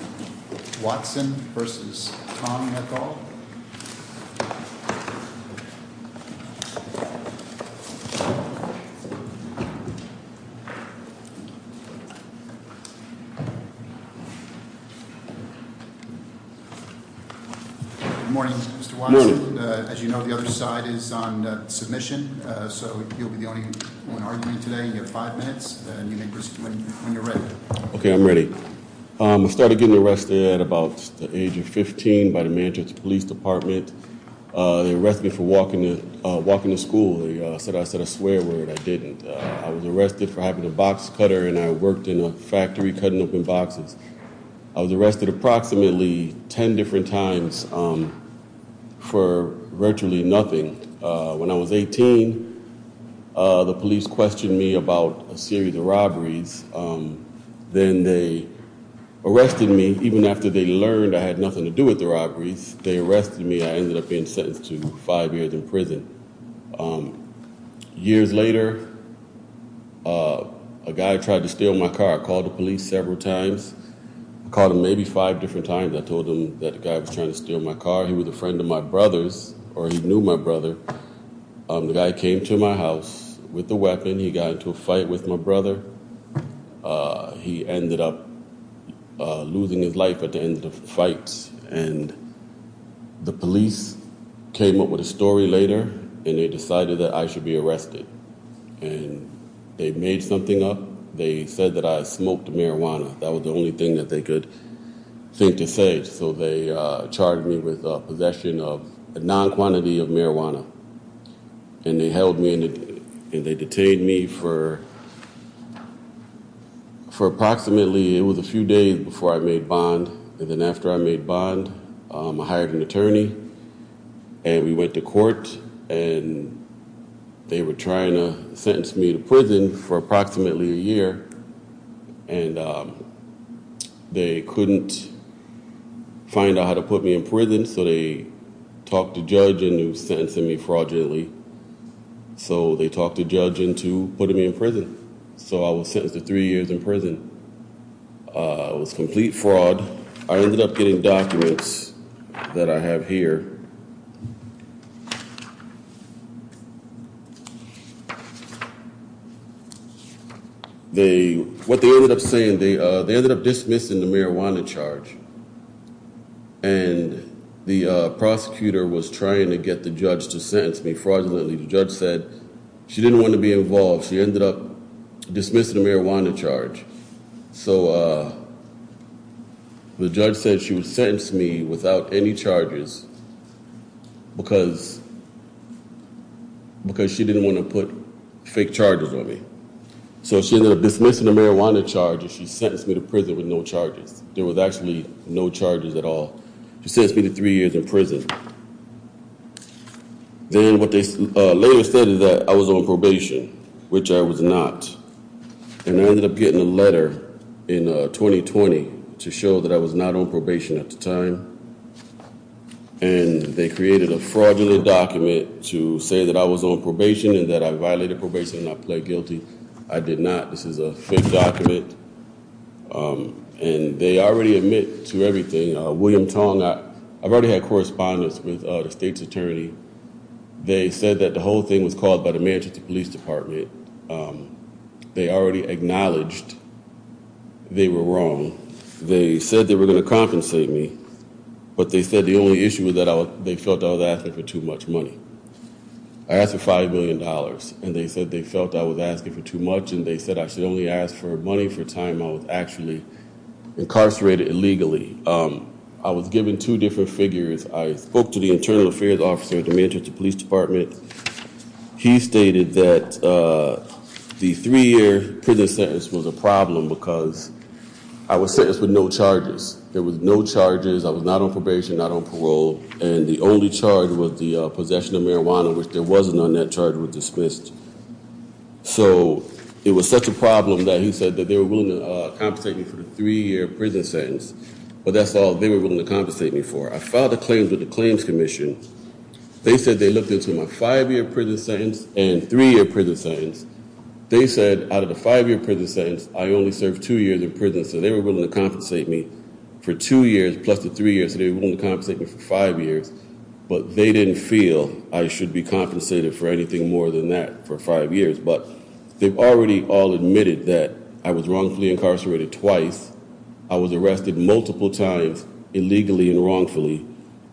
Mr. Watson v. Tom McCaul. Good morning, Mr. Watson. As you know, the other side is on submission, so you'll be the only one arguing today. You have five minutes, and you may proceed when you're ready. Okay, I'm ready. I started getting arrested at about the age of 15 by the Manchester Police Department. They arrested me for walking to school. They said I said a swear word. I didn't. I was arrested for having a box cutter, and I worked in a factory cutting open boxes. I was arrested approximately ten different times for virtually nothing. When I was 18, the police questioned me about a series of robberies. Then they arrested me. Even after they learned I had nothing to do with the robberies, they arrested me. I ended up being sentenced to five years in prison. Years later, a guy tried to steal my car. I called the police several times. I called him maybe five different times. I told him that a guy was trying to steal my car. He was a friend of my brother's, or he knew my brother. The guy came to my house with a weapon. He got into a fight with my brother. He ended up losing his life at the end of the fight. The police came up with a story later, and they decided that I should be arrested. They made something up. They said that I smoked marijuana. That was the only thing that they could think to say. They charged me with possession of a non-quantity of marijuana. They held me, and they detained me for approximately a few days before I made a bond. Then after I made a bond, I hired an attorney. We went to court. They were trying to sentence me to prison for approximately a year. They couldn't find out how to put me in prison, so they talked the judge into sentencing me fraudulently. They talked the judge into putting me in prison. I was sentenced to three years in prison. It was complete fraud. I ended up getting documents that I have here. What they ended up saying, they ended up dismissing the marijuana charge, and the prosecutor was trying to get the judge to sentence me fraudulently. The judge said she didn't want to be involved. She ended up dismissing the marijuana charge. So the judge said she would sentence me without any charges. Because she didn't want to put fake charges on me. So she ended up dismissing the marijuana charge, and she sentenced me to prison with no charges. There was actually no charges at all. She sentenced me to three years in prison. Then what they later said is that I was on probation, which I was not. I ended up getting a letter in 2020 to show that I was not on probation at the time. They created a fraudulent document to say that I was on probation and that I violated probation and I pled guilty. I did not. This is a fake document. They already admit to everything. William Tong, I've already had correspondence with the state's attorney. They said that the whole thing was caused by the Manchester Police Department. They already acknowledged they were wrong. They said they were going to compensate me, but they said the only issue was that they felt I was asking for too much money. I asked for $5 million, and they said they felt I was asking for too much, and they said I should only ask for money for time I was actually incarcerated illegally. I was given two different figures. I spoke to the internal affairs officer at the Manchester Police Department. He stated that the three-year prison sentence was a problem because I was sentenced with no charges. There were no charges. I was not on probation, not on parole, and the only charge was the possession of marijuana, which there was none. That charge was dismissed. So it was such a problem that he said that they were willing to compensate me for the three-year prison sentence, but that's all they were willing to compensate me for. I filed a claim with the Claims Commission. They said they looked into my five-year prison sentence and three-year prison sentence. They said out of the five-year prison sentence, I only served two years in prison, so they were willing to compensate me for two years plus the three years, so they were willing to compensate me for five years, but they didn't feel I should be compensated for anything more than that for five years, but they've already all admitted that I was wrongfully incarcerated twice. I was arrested multiple times illegally and wrongfully,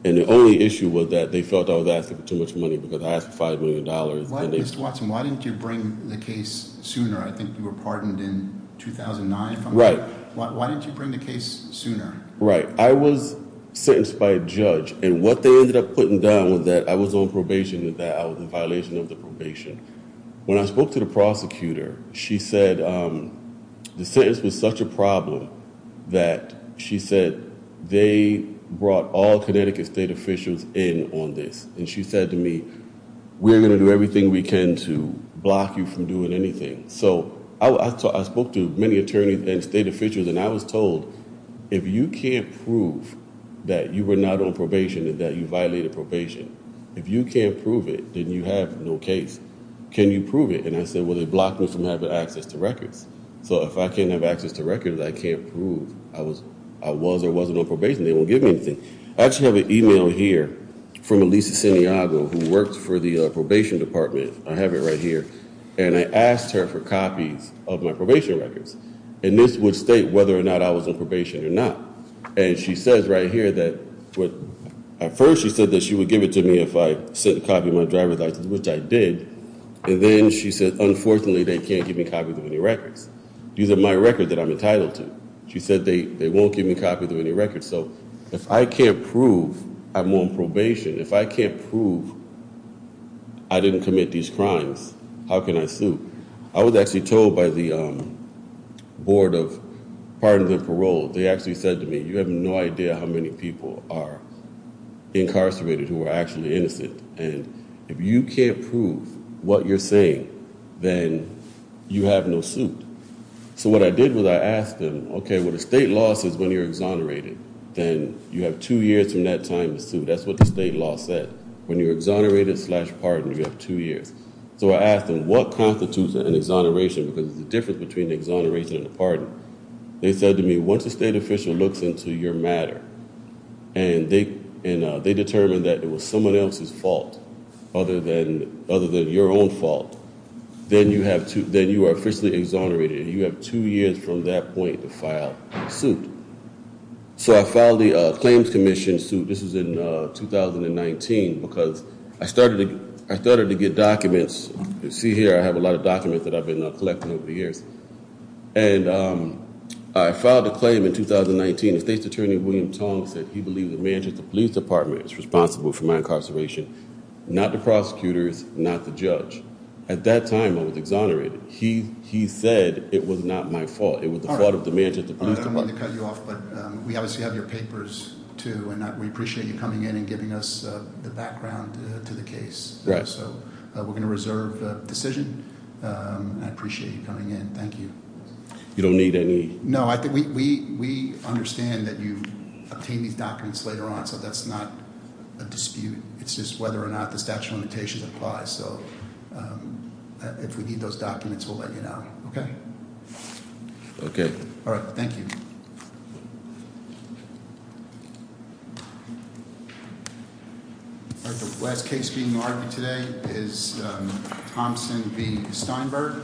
and the only issue was that they felt I was asking for too much money because I asked for $5 million. Mr. Watson, why didn't you bring the case sooner? I think you were pardoned in 2009. Right. Why didn't you bring the case sooner? Right. I was sentenced by a judge, and what they ended up putting down was that I was on probation and that I was in violation of the probation. When I spoke to the prosecutor, she said the sentence was such a problem that she said they brought all Connecticut state officials in on this, and she said to me, we're going to do everything we can to block you from doing anything. So I spoke to many attorneys and state officials, and I was told, if you can't prove that you were not on probation and that you violated probation, if you can't prove it, then you have no case. Can you prove it? And I said, well, they blocked me from having access to records. So if I can't have access to records, I can't prove I was or wasn't on probation. They won't give me anything. I actually have an e-mail here from Elisa Santiago, who worked for the probation department. I have it right here, and I asked her for copies of my probation records, and this would state whether or not I was on probation or not, and she says right here that at first she said that she would give it to me if I sent a copy of my driver's license, which I did, and then she said, unfortunately, they can't give me copies of any records. These are my records that I'm entitled to. She said they won't give me copies of any records. So if I can't prove I'm on probation, if I can't prove I didn't commit these crimes, how can I sue? I was actually told by the board of pardons and parole. They actually said to me, you have no idea how many people are incarcerated who are actually innocent, and if you can't prove what you're saying, then you have no suit. So what I did was I asked them, okay, well, the state law says when you're exonerated, then you have two years from that time to sue. That's what the state law said. When you're exonerated slash pardoned, you have two years. So I asked them, what constitutes an exoneration, because there's a difference between an exoneration and a pardon? They said to me, once a state official looks into your matter and they determine that it was someone else's fault other than your own fault, then you are officially exonerated. You have two years from that point to file a suit. So I filed the claims commission suit. This was in 2019 because I started to get documents. You see here I have a lot of documents that I've been collecting over the years. And I filed a claim in 2019. The state's attorney, William Tong, said he believed the manager of the police department is responsible for my incarceration. Not the prosecutors, not the judge. At that time, I was exonerated. He said it was not my fault. It was the fault of the manager of the police department. All right, I don't want to cut you off, but we obviously have your papers, too, and we appreciate you coming in and giving us the background to the case. Right. So we're going to reserve the decision. I appreciate you coming in. Thank you. You don't need any? No, we understand that you obtain these documents later on, so that's not a dispute. It's just whether or not the statute of limitations applies. So if we need those documents, we'll let you know. Okay? Okay. All right, thank you. All right, the last case being argued today is Thompson v. Steinberg.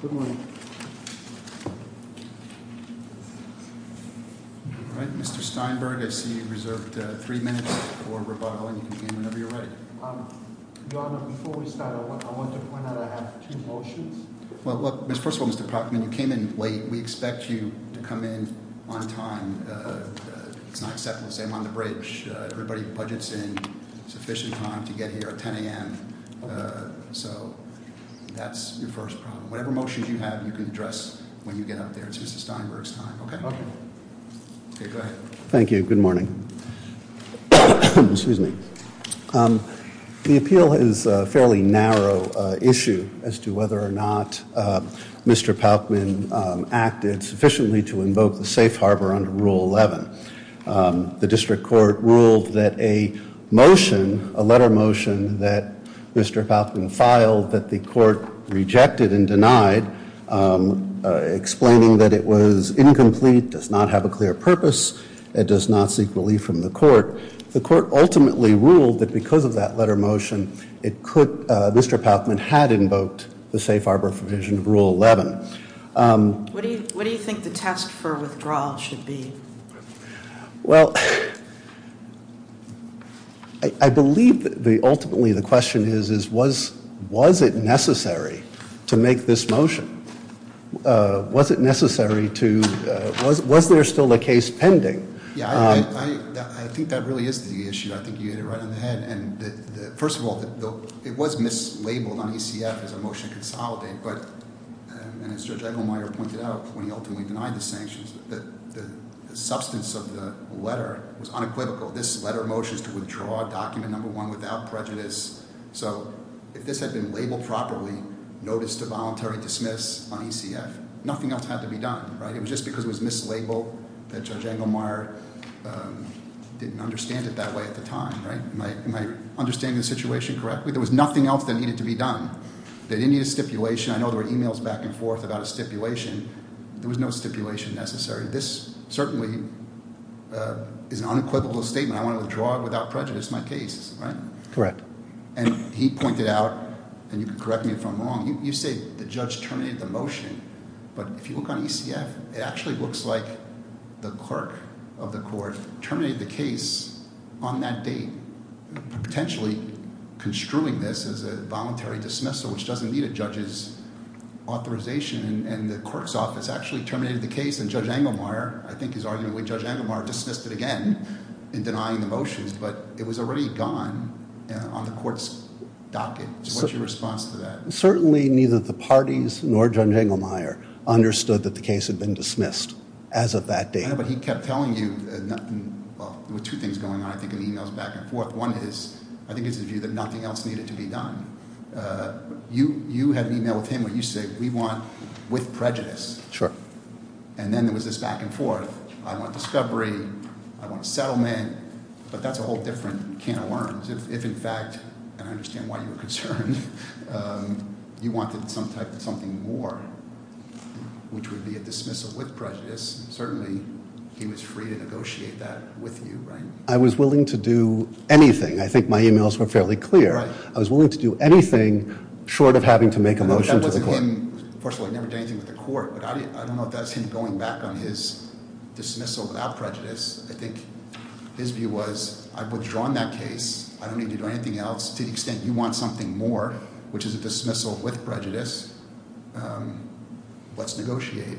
Good morning. All right, Mr. Steinberg, I see you reserved three minutes for rebuttal, and you can begin whenever you're ready. Your Honor, before we start, I want to point out I have two motions. Well, first of all, Mr. Proctor, when you came in late, we expect you to come in on time. It's not acceptable to say I'm on the bridge. Everybody budgets in sufficient time to get here at 10 a.m., so that's your first problem. Whatever motions you have, you can address when you get up there. It's Mr. Steinberg's time. Okay? Okay. Okay, go ahead. Thank you. Good morning. Excuse me. The appeal is a fairly narrow issue as to whether or not Mr. Paukman acted sufficiently to invoke the safe harbor under Rule 11. The district court ruled that a motion, a letter motion that Mr. Paukman filed that the court rejected and denied, explaining that it was incomplete, does not have a clear purpose, and does not seek relief from the court. The court ultimately ruled that because of that letter motion, it could, Mr. Paukman had invoked the safe harbor provision of Rule 11. What do you think the test for withdrawal should be? Well, I believe ultimately the question is, was it necessary to make this motion? Was it necessary to, was there still a case pending? Yeah, I think that really is the issue. I think you hit it right on the head. And first of all, it was mislabeled on ECF as a motion to consolidate. But as Judge Engelmeyer pointed out, when he ultimately denied the sanctions, the substance of the letter was unequivocal. This letter motion is to withdraw document number one without prejudice. So if this had been labeled properly, notice to voluntary dismiss on ECF, nothing else had to be done, right? It was just because it was mislabeled that Judge Engelmeyer didn't understand it that way at the time, right? Am I understanding the situation correctly? There was nothing else that needed to be done. They didn't need a stipulation. I know there were emails back and forth about a stipulation. There was no stipulation necessary. This certainly is an unequivocal statement. I want to withdraw without prejudice my case, right? Correct. And he pointed out, and you can correct me if I'm wrong, you say the judge terminated the motion. But if you look on ECF, it actually looks like the clerk of the court terminated the case on that date, potentially construing this as a voluntary dismissal, which doesn't need a judge's authorization. And the clerk's office actually terminated the case, and Judge Engelmeyer, I think his argument with Judge Engelmeyer, dismissed it again in denying the motions. But it was already gone on the court's docket. What's your response to that? Certainly neither the parties nor Judge Engelmeyer understood that the case had been dismissed as of that date. Yeah, but he kept telling you, well, there were two things going on, I think, in the emails back and forth. One is, I think it's the view that nothing else needed to be done. You had an email with him where you said we want with prejudice. Sure. And then there was this back and forth. I want discovery. I want settlement. But that's a whole different can of worms. If in fact, and I understand why you were concerned, you wanted some type of something more, which would be a dismissal with prejudice, certainly he was free to negotiate that with you, right? I was willing to do anything. I think my emails were fairly clear. Right. I was willing to do anything short of having to make a motion to the court. That wasn't him. First of all, he never did anything with the court. But I don't know if that's him going back on his dismissal without prejudice. I think his view was I've withdrawn that case. I don't need to do anything else. To the extent you want something more, which is a dismissal with prejudice, let's negotiate.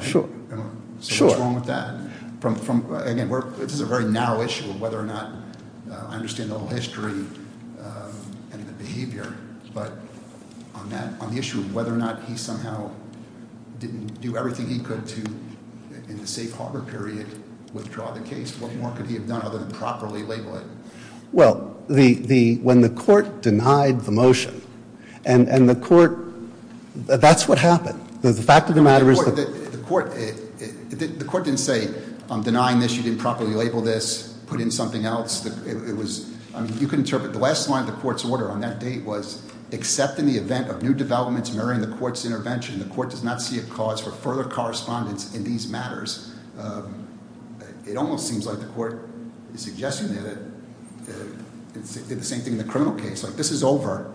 Sure. So what's wrong with that? Again, this is a very narrow issue of whether or not I understand the whole history and the behavior. But on the issue of whether or not he somehow didn't do everything he could to, in the safe harbor period, withdraw the case, what more could he have done other than properly label it? Well, when the court denied the motion, and the court, that's what happened. The fact of the matter is- The court didn't say, I'm denying this, you didn't properly label this, put in something else. You can interpret the last line of the court's order on that date was, except in the event of new developments mirroring the court's intervention, the court does not see a cause for further correspondence in these matters. It almost seems like the court is suggesting that it's the same thing in the criminal case. This is over.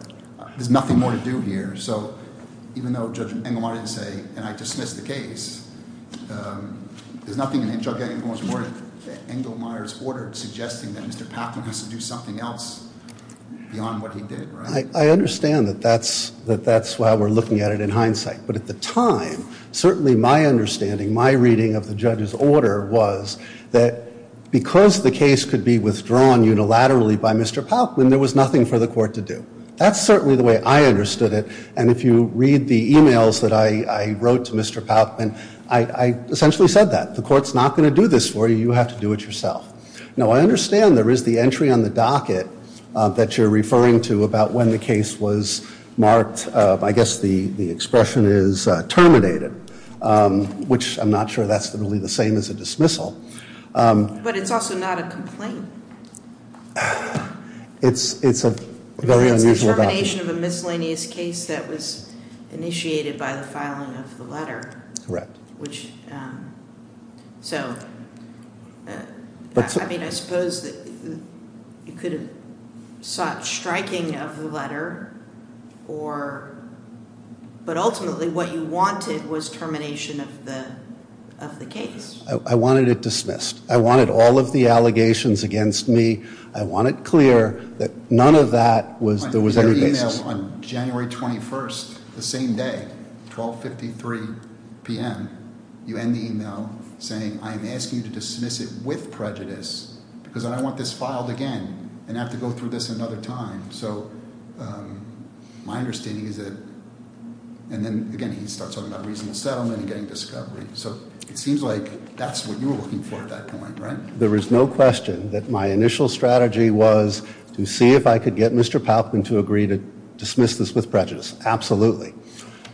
There's nothing more to do here. So even though Judge Engelmeyer didn't say, and I dismiss the case, there's nothing in Judge Engelmeyer's order suggesting that Mr. Palkman has to do something else beyond what he did, right? I understand that that's why we're looking at it in hindsight. But at the time, certainly my understanding, my reading of the judge's order was that because the case could be withdrawn unilaterally by Mr. Palkman, there was nothing for the court to do. That's certainly the way I understood it. And if you read the emails that I wrote to Mr. Palkman, I essentially said that. The court's not going to do this for you. You have to do it yourself. Now, I understand there is the entry on the docket that you're referring to about when the case was marked. I guess the expression is terminated, which I'm not sure that's really the same as a dismissal. But it's also not a complaint. It's a very unusual docket. The termination of a miscellaneous case that was initiated by the filing of the letter. Correct. Which, so, I mean, I suppose that you could have sought striking of the letter or, but ultimately what you wanted was termination of the case. I wanted it dismissed. I wanted all of the allegations against me. I want it clear that none of that was there was any basis. On January 21st, the same day, 1253 p.m., you end the email saying, I am asking you to dismiss it with prejudice because I don't want this filed again and have to go through this another time. So my understanding is that, and then, again, he starts talking about reasonable settlement and getting discovery. So it seems like that's what you were looking for at that point, right? There is no question that my initial strategy was to see if I could get Mr. Palkman to agree to dismiss this with prejudice. Absolutely.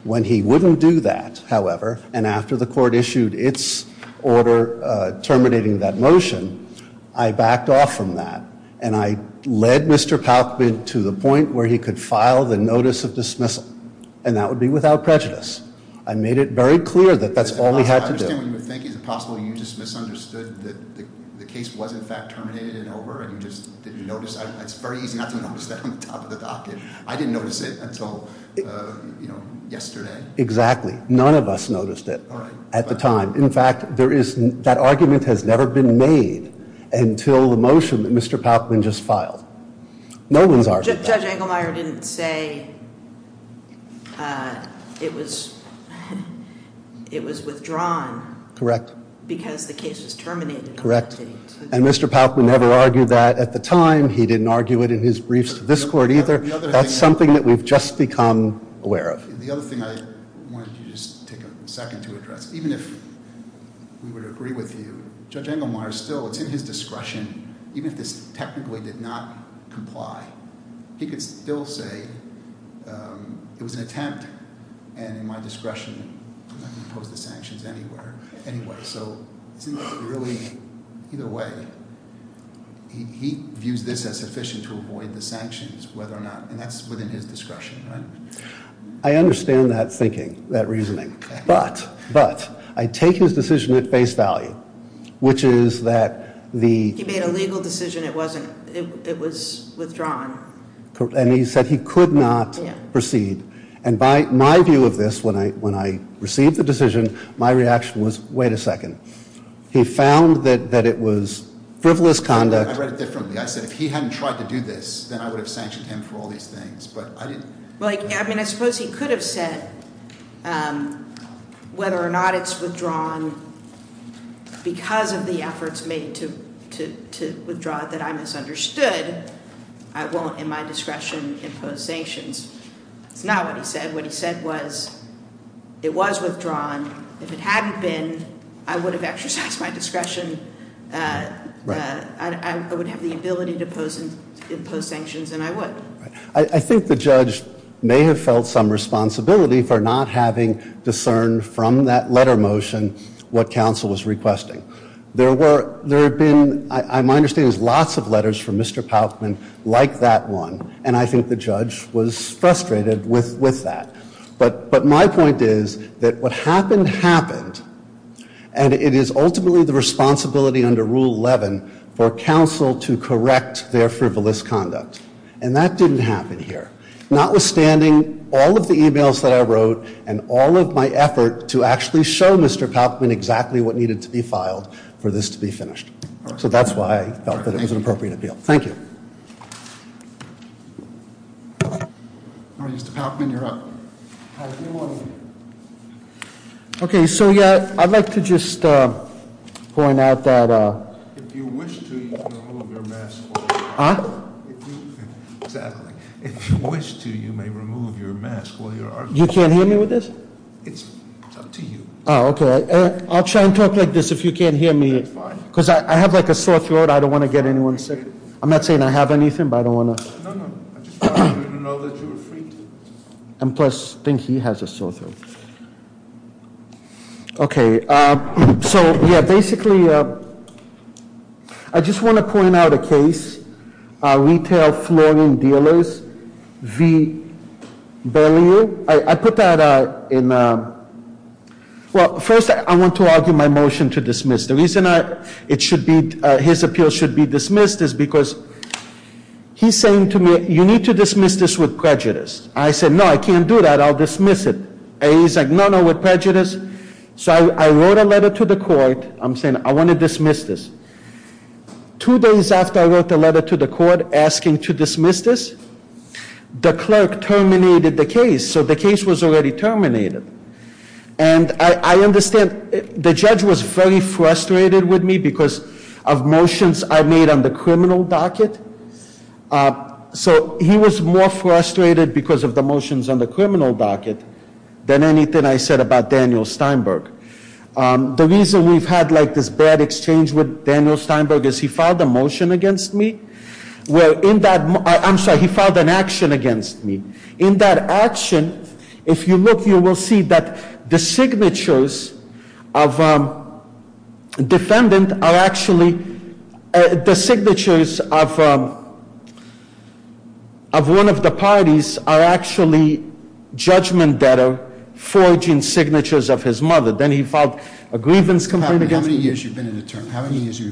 When he wouldn't do that, however, and after the court issued its order terminating that motion, I backed off from that and I led Mr. Palkman to the point where he could file the notice of dismissal. And that would be without prejudice. I made it very clear that that's all he had to do. Is it possible you just misunderstood that the case was in fact terminated and over and you just didn't notice? It's very easy not to notice that on the top of the docket. I didn't notice it until yesterday. Exactly. None of us noticed it at the time. In fact, that argument has never been made until the motion that Mr. Palkman just filed. No one's argued that. Judge Engelmeyer didn't say it was withdrawn. Correct. Because the case is terminated. Correct. And Mr. Palkman never argued that at the time. He didn't argue it in his briefs to this court either. That's something that we've just become aware of. The other thing I wanted to just take a second to address, even if we would agree with you, Judge Engelmeyer still, it's in his discretion, even if this technically did not comply, he could still say it was an attempt and in my discretion I'm not going to impose the sanctions anywhere. Anyway, so isn't that really, either way, he views this as sufficient to avoid the sanctions whether or not, and that's within his discretion, right? I understand that thinking, that reasoning. But, but, I take his decision at face value, which is that the He made a legal decision, it wasn't, it was withdrawn. And he said he could not proceed. And by my view of this, when I received the decision, my reaction was, wait a second. He found that it was frivolous conduct I read it differently. I said if he hadn't tried to do this, then I would have sanctioned him for all these things, but I didn't I mean, I suppose he could have said whether or not it's withdrawn because of the efforts made to withdraw it that I misunderstood. I won't, in my discretion, impose sanctions. It's not what he said. What he said was it was withdrawn. If it hadn't been, I would have exercised my discretion. I would have the ability to impose sanctions and I would. I think the judge may have felt some responsibility for not having discerned from that letter motion what counsel was requesting. There were, there have been, my understanding is lots of letters from Mr. Paukman like that one. And I think the judge was frustrated with, with that. But, but my point is that what happened, happened. And it is ultimately the responsibility under Rule 11 for counsel to correct their frivolous conduct. And that didn't happen here. Notwithstanding all of the emails that I wrote and all of my effort to actually show Mr. Paukman exactly what needed to be filed for this to be finished. So that's why I felt that it was an appropriate appeal. Thank you. All right, Mr. Paukman, you're up. Hi, good morning. Okay, so yeah, I'd like to just point out that If you wish to, you can remove your mask while you're arguing. Huh? Exactly. If you wish to, you may remove your mask while you're arguing. You can't hear me with this? It's up to you. Oh, okay. I'll try and talk like this if you can't hear me. That's fine. Because I have like a sore throat. I don't want to get anyone sick. I'm not saying I have anything, but I don't want to. No, no. I just want you to know that you're free to. And plus, I think he has a sore throat. Okay. So, yeah, basically, I just want to point out a case. Retail Flooring Dealers v. Bellevue. I put that in. Well, first, I want to argue my motion to dismiss. The reason it should be, his appeal should be dismissed is because he's saying to me, you need to dismiss this with prejudice. I said, no, I can't do that. I'll dismiss it. He's like, no, no, with prejudice. So I wrote a letter to the court. I'm saying I want to dismiss this. Two days after I wrote the letter to the court asking to dismiss this, the clerk terminated the case. So the case was already terminated. And I understand the judge was very frustrated with me because of motions I made on the criminal docket. So he was more frustrated because of the motions on the criminal docket than anything I said about Daniel Steinberg. The reason we've had like this bad exchange with Daniel Steinberg is he filed a motion against me. Well, in that, I'm sorry, he filed an action against me. In that action, if you look, you will see that the signatures of defendant are actually, the signatures of one of the parties are actually judgment that are forging signatures of his mother. Then he filed a grievance complaint against me. How many years have you been an attorney? How many years have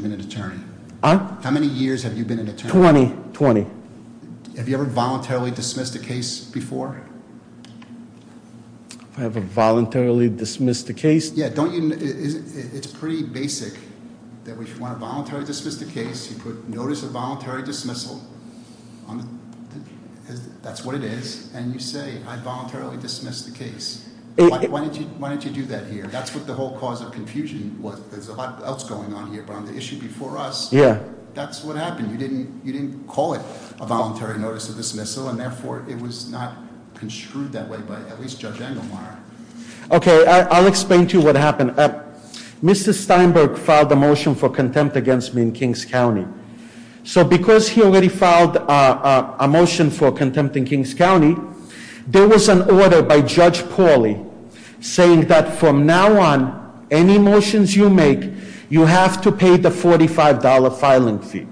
you been an attorney? 20. 20. Have you ever voluntarily dismissed a case before? I have a voluntarily dismissed a case? Yeah. It's pretty basic that we want to voluntarily dismiss the case. You put notice of voluntary dismissal. That's what it is. And you say, I voluntarily dismissed the case. Why didn't you do that here? That's what the whole cause of confusion was. There's a lot else going on here. But on the issue before us, that's what happened. You didn't call it a voluntary notice of dismissal. And therefore, it was not construed that way by at least Judge Engelmeyer. Okay, I'll explain to you what happened. Mr. Steinberg filed a motion for contempt against me in Kings County. So because he already filed a motion for contempt in Kings County, there was an order by Judge Pauly saying that from now on, any motions you make, you have to pay the $45 filing fee.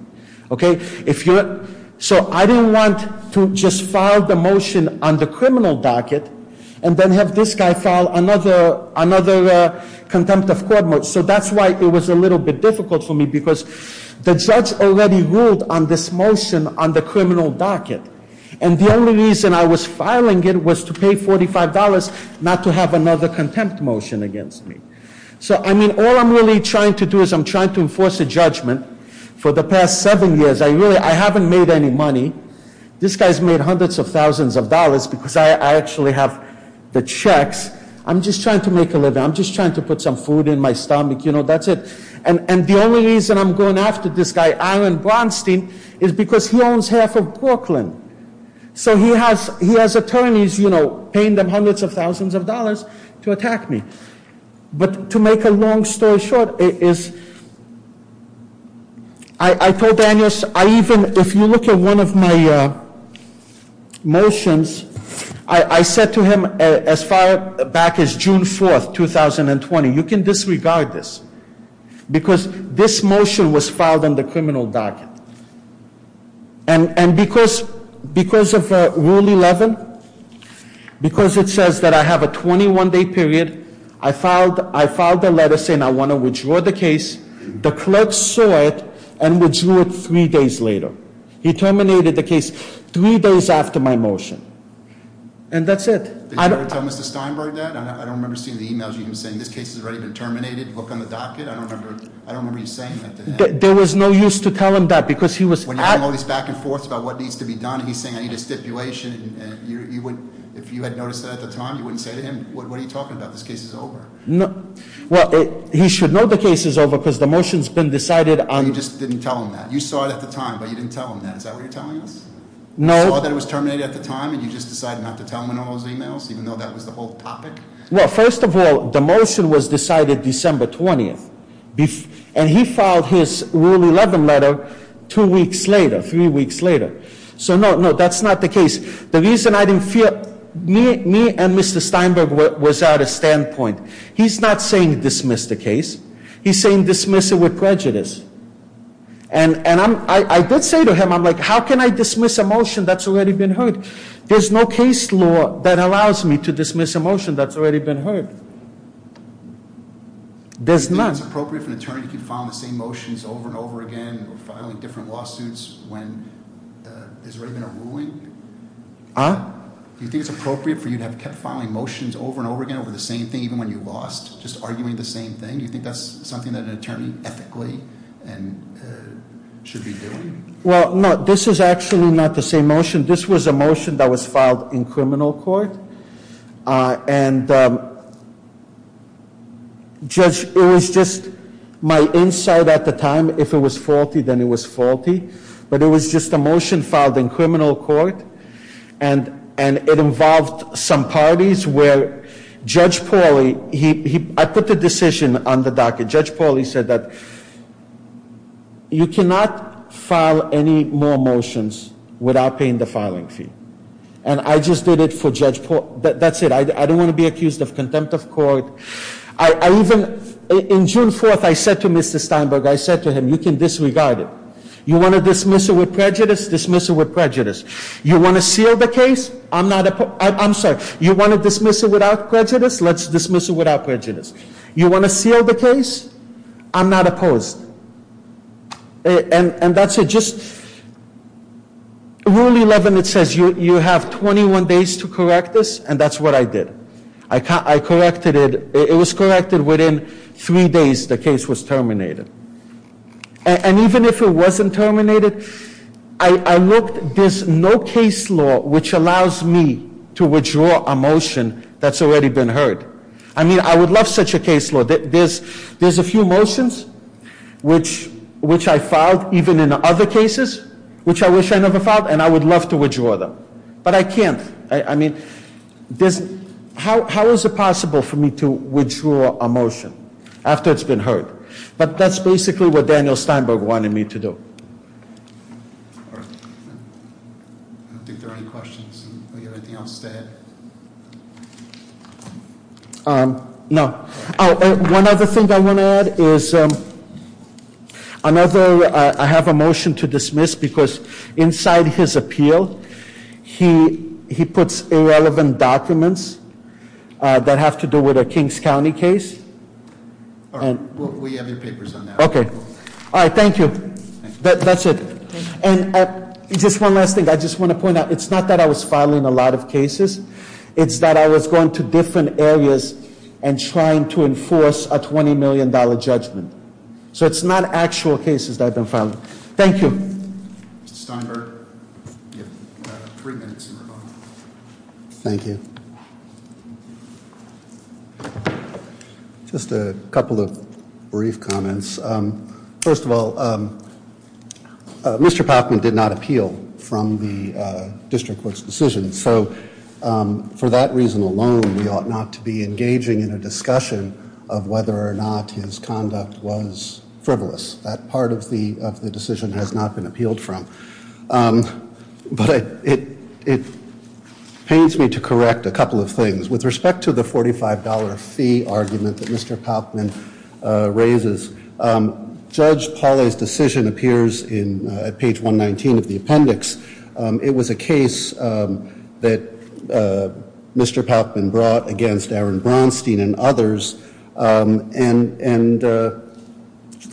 So I didn't want to just file the motion on the criminal docket and then have this guy file another contempt of court motion. So that's why it was a little bit difficult for me because the judge already ruled on this motion on the criminal docket. And the only reason I was filing it was to pay $45, not to have another contempt motion against me. So, I mean, all I'm really trying to do is I'm trying to enforce a judgment for the past seven years. I haven't made any money. This guy's made hundreds of thousands of dollars because I actually have the checks. I'm just trying to make a living. I'm just trying to put some food in my stomach. You know, that's it. And the only reason I'm going after this guy, Aaron Bronstein, is because he owns half of Brooklyn. So he has attorneys, you know, paying them hundreds of thousands of dollars to attack me. But to make a long story short, I told Daniel, if you look at one of my motions, I said to him as far back as June 4th, 2020, you can disregard this because this motion was filed on the criminal docket. And because of Rule 11, because it says that I have a 21-day period, I filed a letter saying I want to withdraw the case. The clerk saw it and withdrew it three days later. He terminated the case three days after my motion. And that's it. Did you ever tell Mr. Steinberg that? I don't remember seeing the emails you were sending. This case has already been terminated. Look on the docket. I don't remember you saying that to him. There was no use to tell him that because he was- When you're going back and forth about what needs to be done, he's saying I need a stipulation. If you had noticed that at the time, you wouldn't say to him, what are you talking about? This case is over. Well, he should know the case is over because the motion's been decided on- You just didn't tell him that. You saw it at the time, but you didn't tell him that. Is that what you're telling us? No. You saw that it was terminated at the time, and you just decided not to tell him in all those emails, even though that was the whole topic? Well, first of all, the motion was decided December 20th. And he filed his Rule 11 letter two weeks later, three weeks later. So, no, that's not the case. The reason I didn't feel- Me and Mr. Steinberg was at a standpoint. He's not saying dismiss the case. He's saying dismiss it with prejudice. And I did say to him, I'm like, how can I dismiss a motion that's already been heard? There's no case law that allows me to dismiss a motion that's already been heard. There's none. Do you think it's appropriate for an attorney to keep filing the same motions over and over again or filing different lawsuits when there's already been a ruling? Huh? Do you think it's appropriate for you to have kept filing motions over and over again over the same thing, even when you lost, just arguing the same thing? Do you think that's something that an attorney ethically should be doing? Well, no, this is actually not the same motion. This was a motion that was filed in criminal court. And, Judge, it was just my insight at the time. If it was faulty, then it was faulty. But it was just a motion filed in criminal court. And it involved some parties where Judge Pauly- I put the decision on the docket. Judge Pauly said that you cannot file any more motions without paying the filing fee. And I just did it for Judge Pauly. That's it. I don't want to be accused of contempt of court. I even- in June 4th, I said to Mr. Steinberg, I said to him, you can disregard it. You want to dismiss it with prejudice? Dismiss it with prejudice. You want to seal the case? I'm not- I'm sorry. You want to dismiss it without prejudice? Let's dismiss it without prejudice. You want to seal the case? I'm not opposed. And that's it. Rule 11, it says you have 21 days to correct this, and that's what I did. I corrected it. It was corrected within three days the case was terminated. And even if it wasn't terminated, I looked. There's no case law which allows me to withdraw a motion that's already been heard. I mean, I would love such a case law. There's a few motions which I filed, even in other cases, which I wish I never filed, and I would love to withdraw them. But I can't. I mean, how is it possible for me to withdraw a motion after it's been heard? But that's basically what Daniel Steinberg wanted me to do. I don't think there are any questions. Do we have anything else to add? No. One other thing I want to add is I have a motion to dismiss because inside his appeal, he puts irrelevant documents that have to do with a Kings County case. We have your papers on that. Okay. All right. Thank you. That's it. And just one last thing. I just want to point out, it's not that I was filing a lot of cases. It's that I was going to different areas and trying to enforce a $20 million judgment. So it's not actual cases that I've been filing. Thank you. Mr. Steinberg. You have three minutes. Thank you. Just a couple of brief comments. First of all, Mr. Palkman did not appeal from the district court's decision. So for that reason alone, we ought not to be engaging in a discussion of whether or not his conduct was frivolous. That part of the decision has not been appealed from. But it pains me to correct a couple of things. With respect to the $45 fee argument that Mr. Palkman raises, Judge Pauley's decision appears at page 119 of the appendix. It was a case that Mr. Palkman brought against Aaron Braunstein and others, and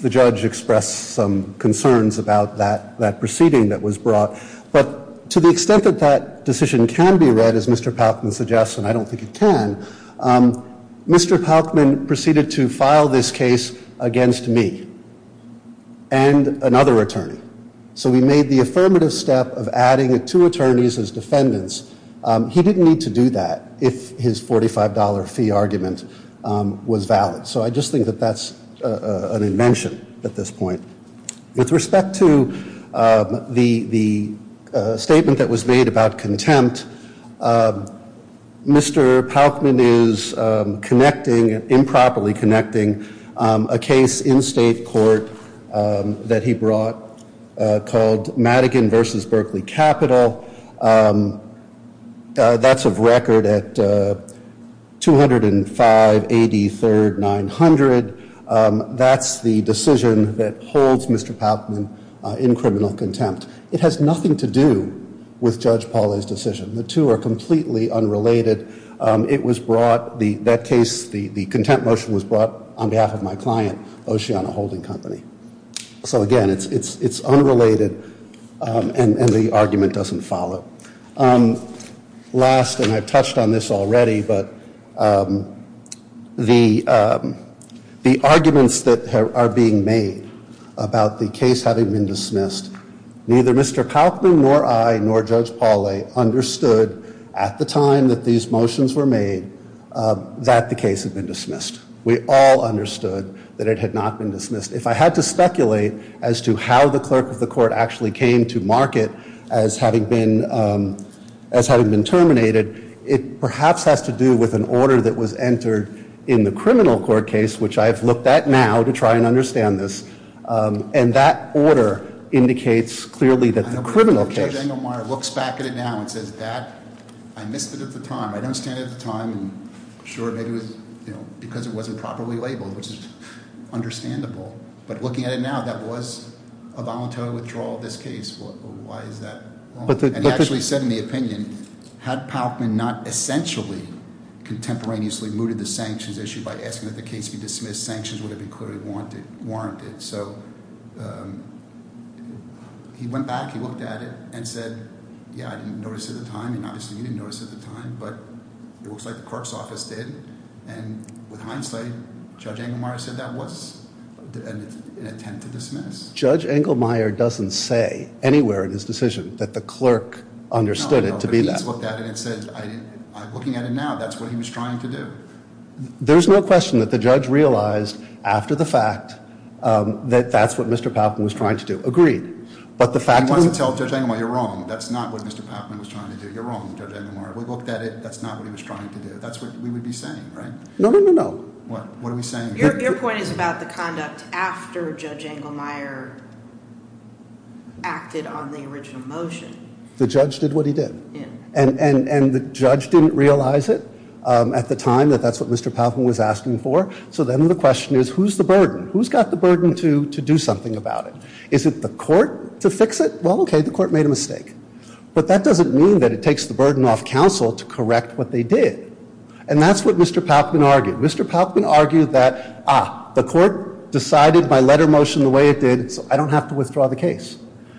the judge expressed some concerns about that proceeding that was brought. But to the extent that that decision can be read, as Mr. Palkman suggests, and I don't think it can, Mr. Palkman proceeded to file this case against me and another attorney. So we made the affirmative step of adding two attorneys as defendants. He didn't need to do that if his $45 fee argument was valid. So I just think that that's an invention at this point. With respect to the statement that was made about contempt, Mr. Palkman is connecting, improperly connecting, a case in state court that he brought called Madigan v. Berkeley Capital. That's of record at 205 AD 3rd 900. That's the decision that holds Mr. Palkman in criminal contempt. It has nothing to do with Judge Pauley's decision. The two are completely unrelated. It was brought, that case, the contempt motion was brought on behalf of my client, Oceana Holding Company. So again, it's unrelated and the argument doesn't follow. Last, and I've touched on this already, but the arguments that are being made about the case having been dismissed, neither Mr. Palkman nor I nor Judge Pauley understood at the time that these motions were made that the case had been dismissed. We all understood that it had not been dismissed. If I had to speculate as to how the clerk of the court actually came to mark it as having been terminated, it perhaps has to do with an order that was entered in the criminal court case, which I have looked at now to try and understand this. And that order indicates clearly that the criminal case. Daniel Meyer looks back at it now and says that, I missed it at the time. I don't understand it at the time. I'm sure maybe it was because it wasn't properly labeled, which is understandable. But looking at it now, that was a voluntary withdrawal of this case. Why is that? And he actually said in the opinion, had Palkman not essentially contemporaneously mooted the sanctions issue by asking that the case be dismissed, sanctions would have been clearly warranted. So he went back, he looked at it and said, yeah, I didn't notice at the time. And obviously you didn't notice at the time, but it looks like the clerk's office did. And with hindsight, Judge Engelmeyer said that was an attempt to dismiss. Judge Engelmeyer doesn't say anywhere in his decision that the clerk understood it to be that. He looked at it and said, looking at it now, that's what he was trying to do. There's no question that the judge realized after the fact that that's what Mr. Palkman was trying to do. Agreed. He wants to tell Judge Engelmeyer, you're wrong, that's not what Mr. Palkman was trying to do. You're wrong, Judge Engelmeyer. We looked at it, that's not what he was trying to do. That's what we would be saying, right? No, no, no, no. What are we saying? Your point is about the conduct after Judge Engelmeyer acted on the original motion. The judge did what he did. Yeah. And the judge didn't realize it at the time that that's what Mr. Palkman was asking for. So then the question is, who's the burden? Who's got the burden to do something about it? Is it the court to fix it? Well, okay, the court made a mistake. But that doesn't mean that it takes the burden off counsel to correct what they did. And that's what Mr. Palkman argued. Mr. Palkman argued that, ah, the court decided my letter motion the way it did, so I don't have to withdraw the case.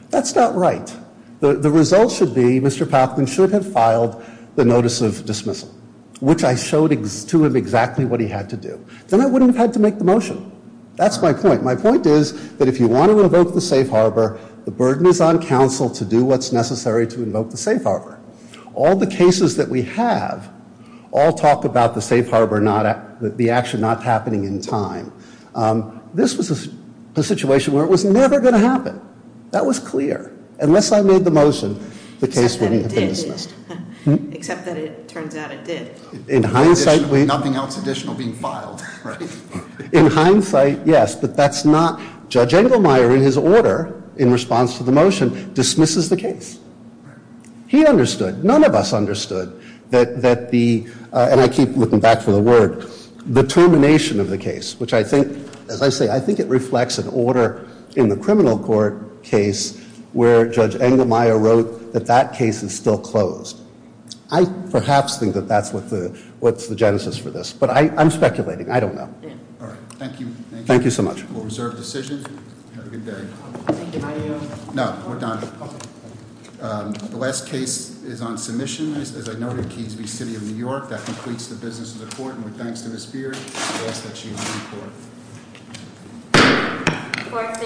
That's not right. The result should be Mr. Palkman should have filed the notice of dismissal, which I showed to him exactly what he had to do. Then I wouldn't have had to make the motion. That's my point. My point is that if you want to invoke the safe harbor, the burden is on counsel to do what's necessary to invoke the safe harbor. All the cases that we have all talk about the safe harbor, the action not happening in time. That was clear. Unless I made the motion, the case wouldn't have been dismissed. Except that it did, at least. Except that it turns out it did. In hindsight, we... Nothing else additional being filed, right? In hindsight, yes. But that's not... Judge Engelmeyer, in his order, in response to the motion, dismisses the case. He understood. None of us understood that the... And I keep looking back for the word... Determination of the case, which I think, as I say, I think it reflects an order in the criminal court case where Judge Engelmeyer wrote that that case is still closed. I perhaps think that that's what's the genesis for this. But I'm speculating. I don't know. All right. Thank you. Thank you so much. We'll reserve decisions. Have a good day. Thank you. No, we're done. The last case is on submission. As I noted, Kingsby City of New York. That completes the business of the court. And with thanks to Ms. Beard, I ask that she leave the court. Court is adjourned. Court is adjourned.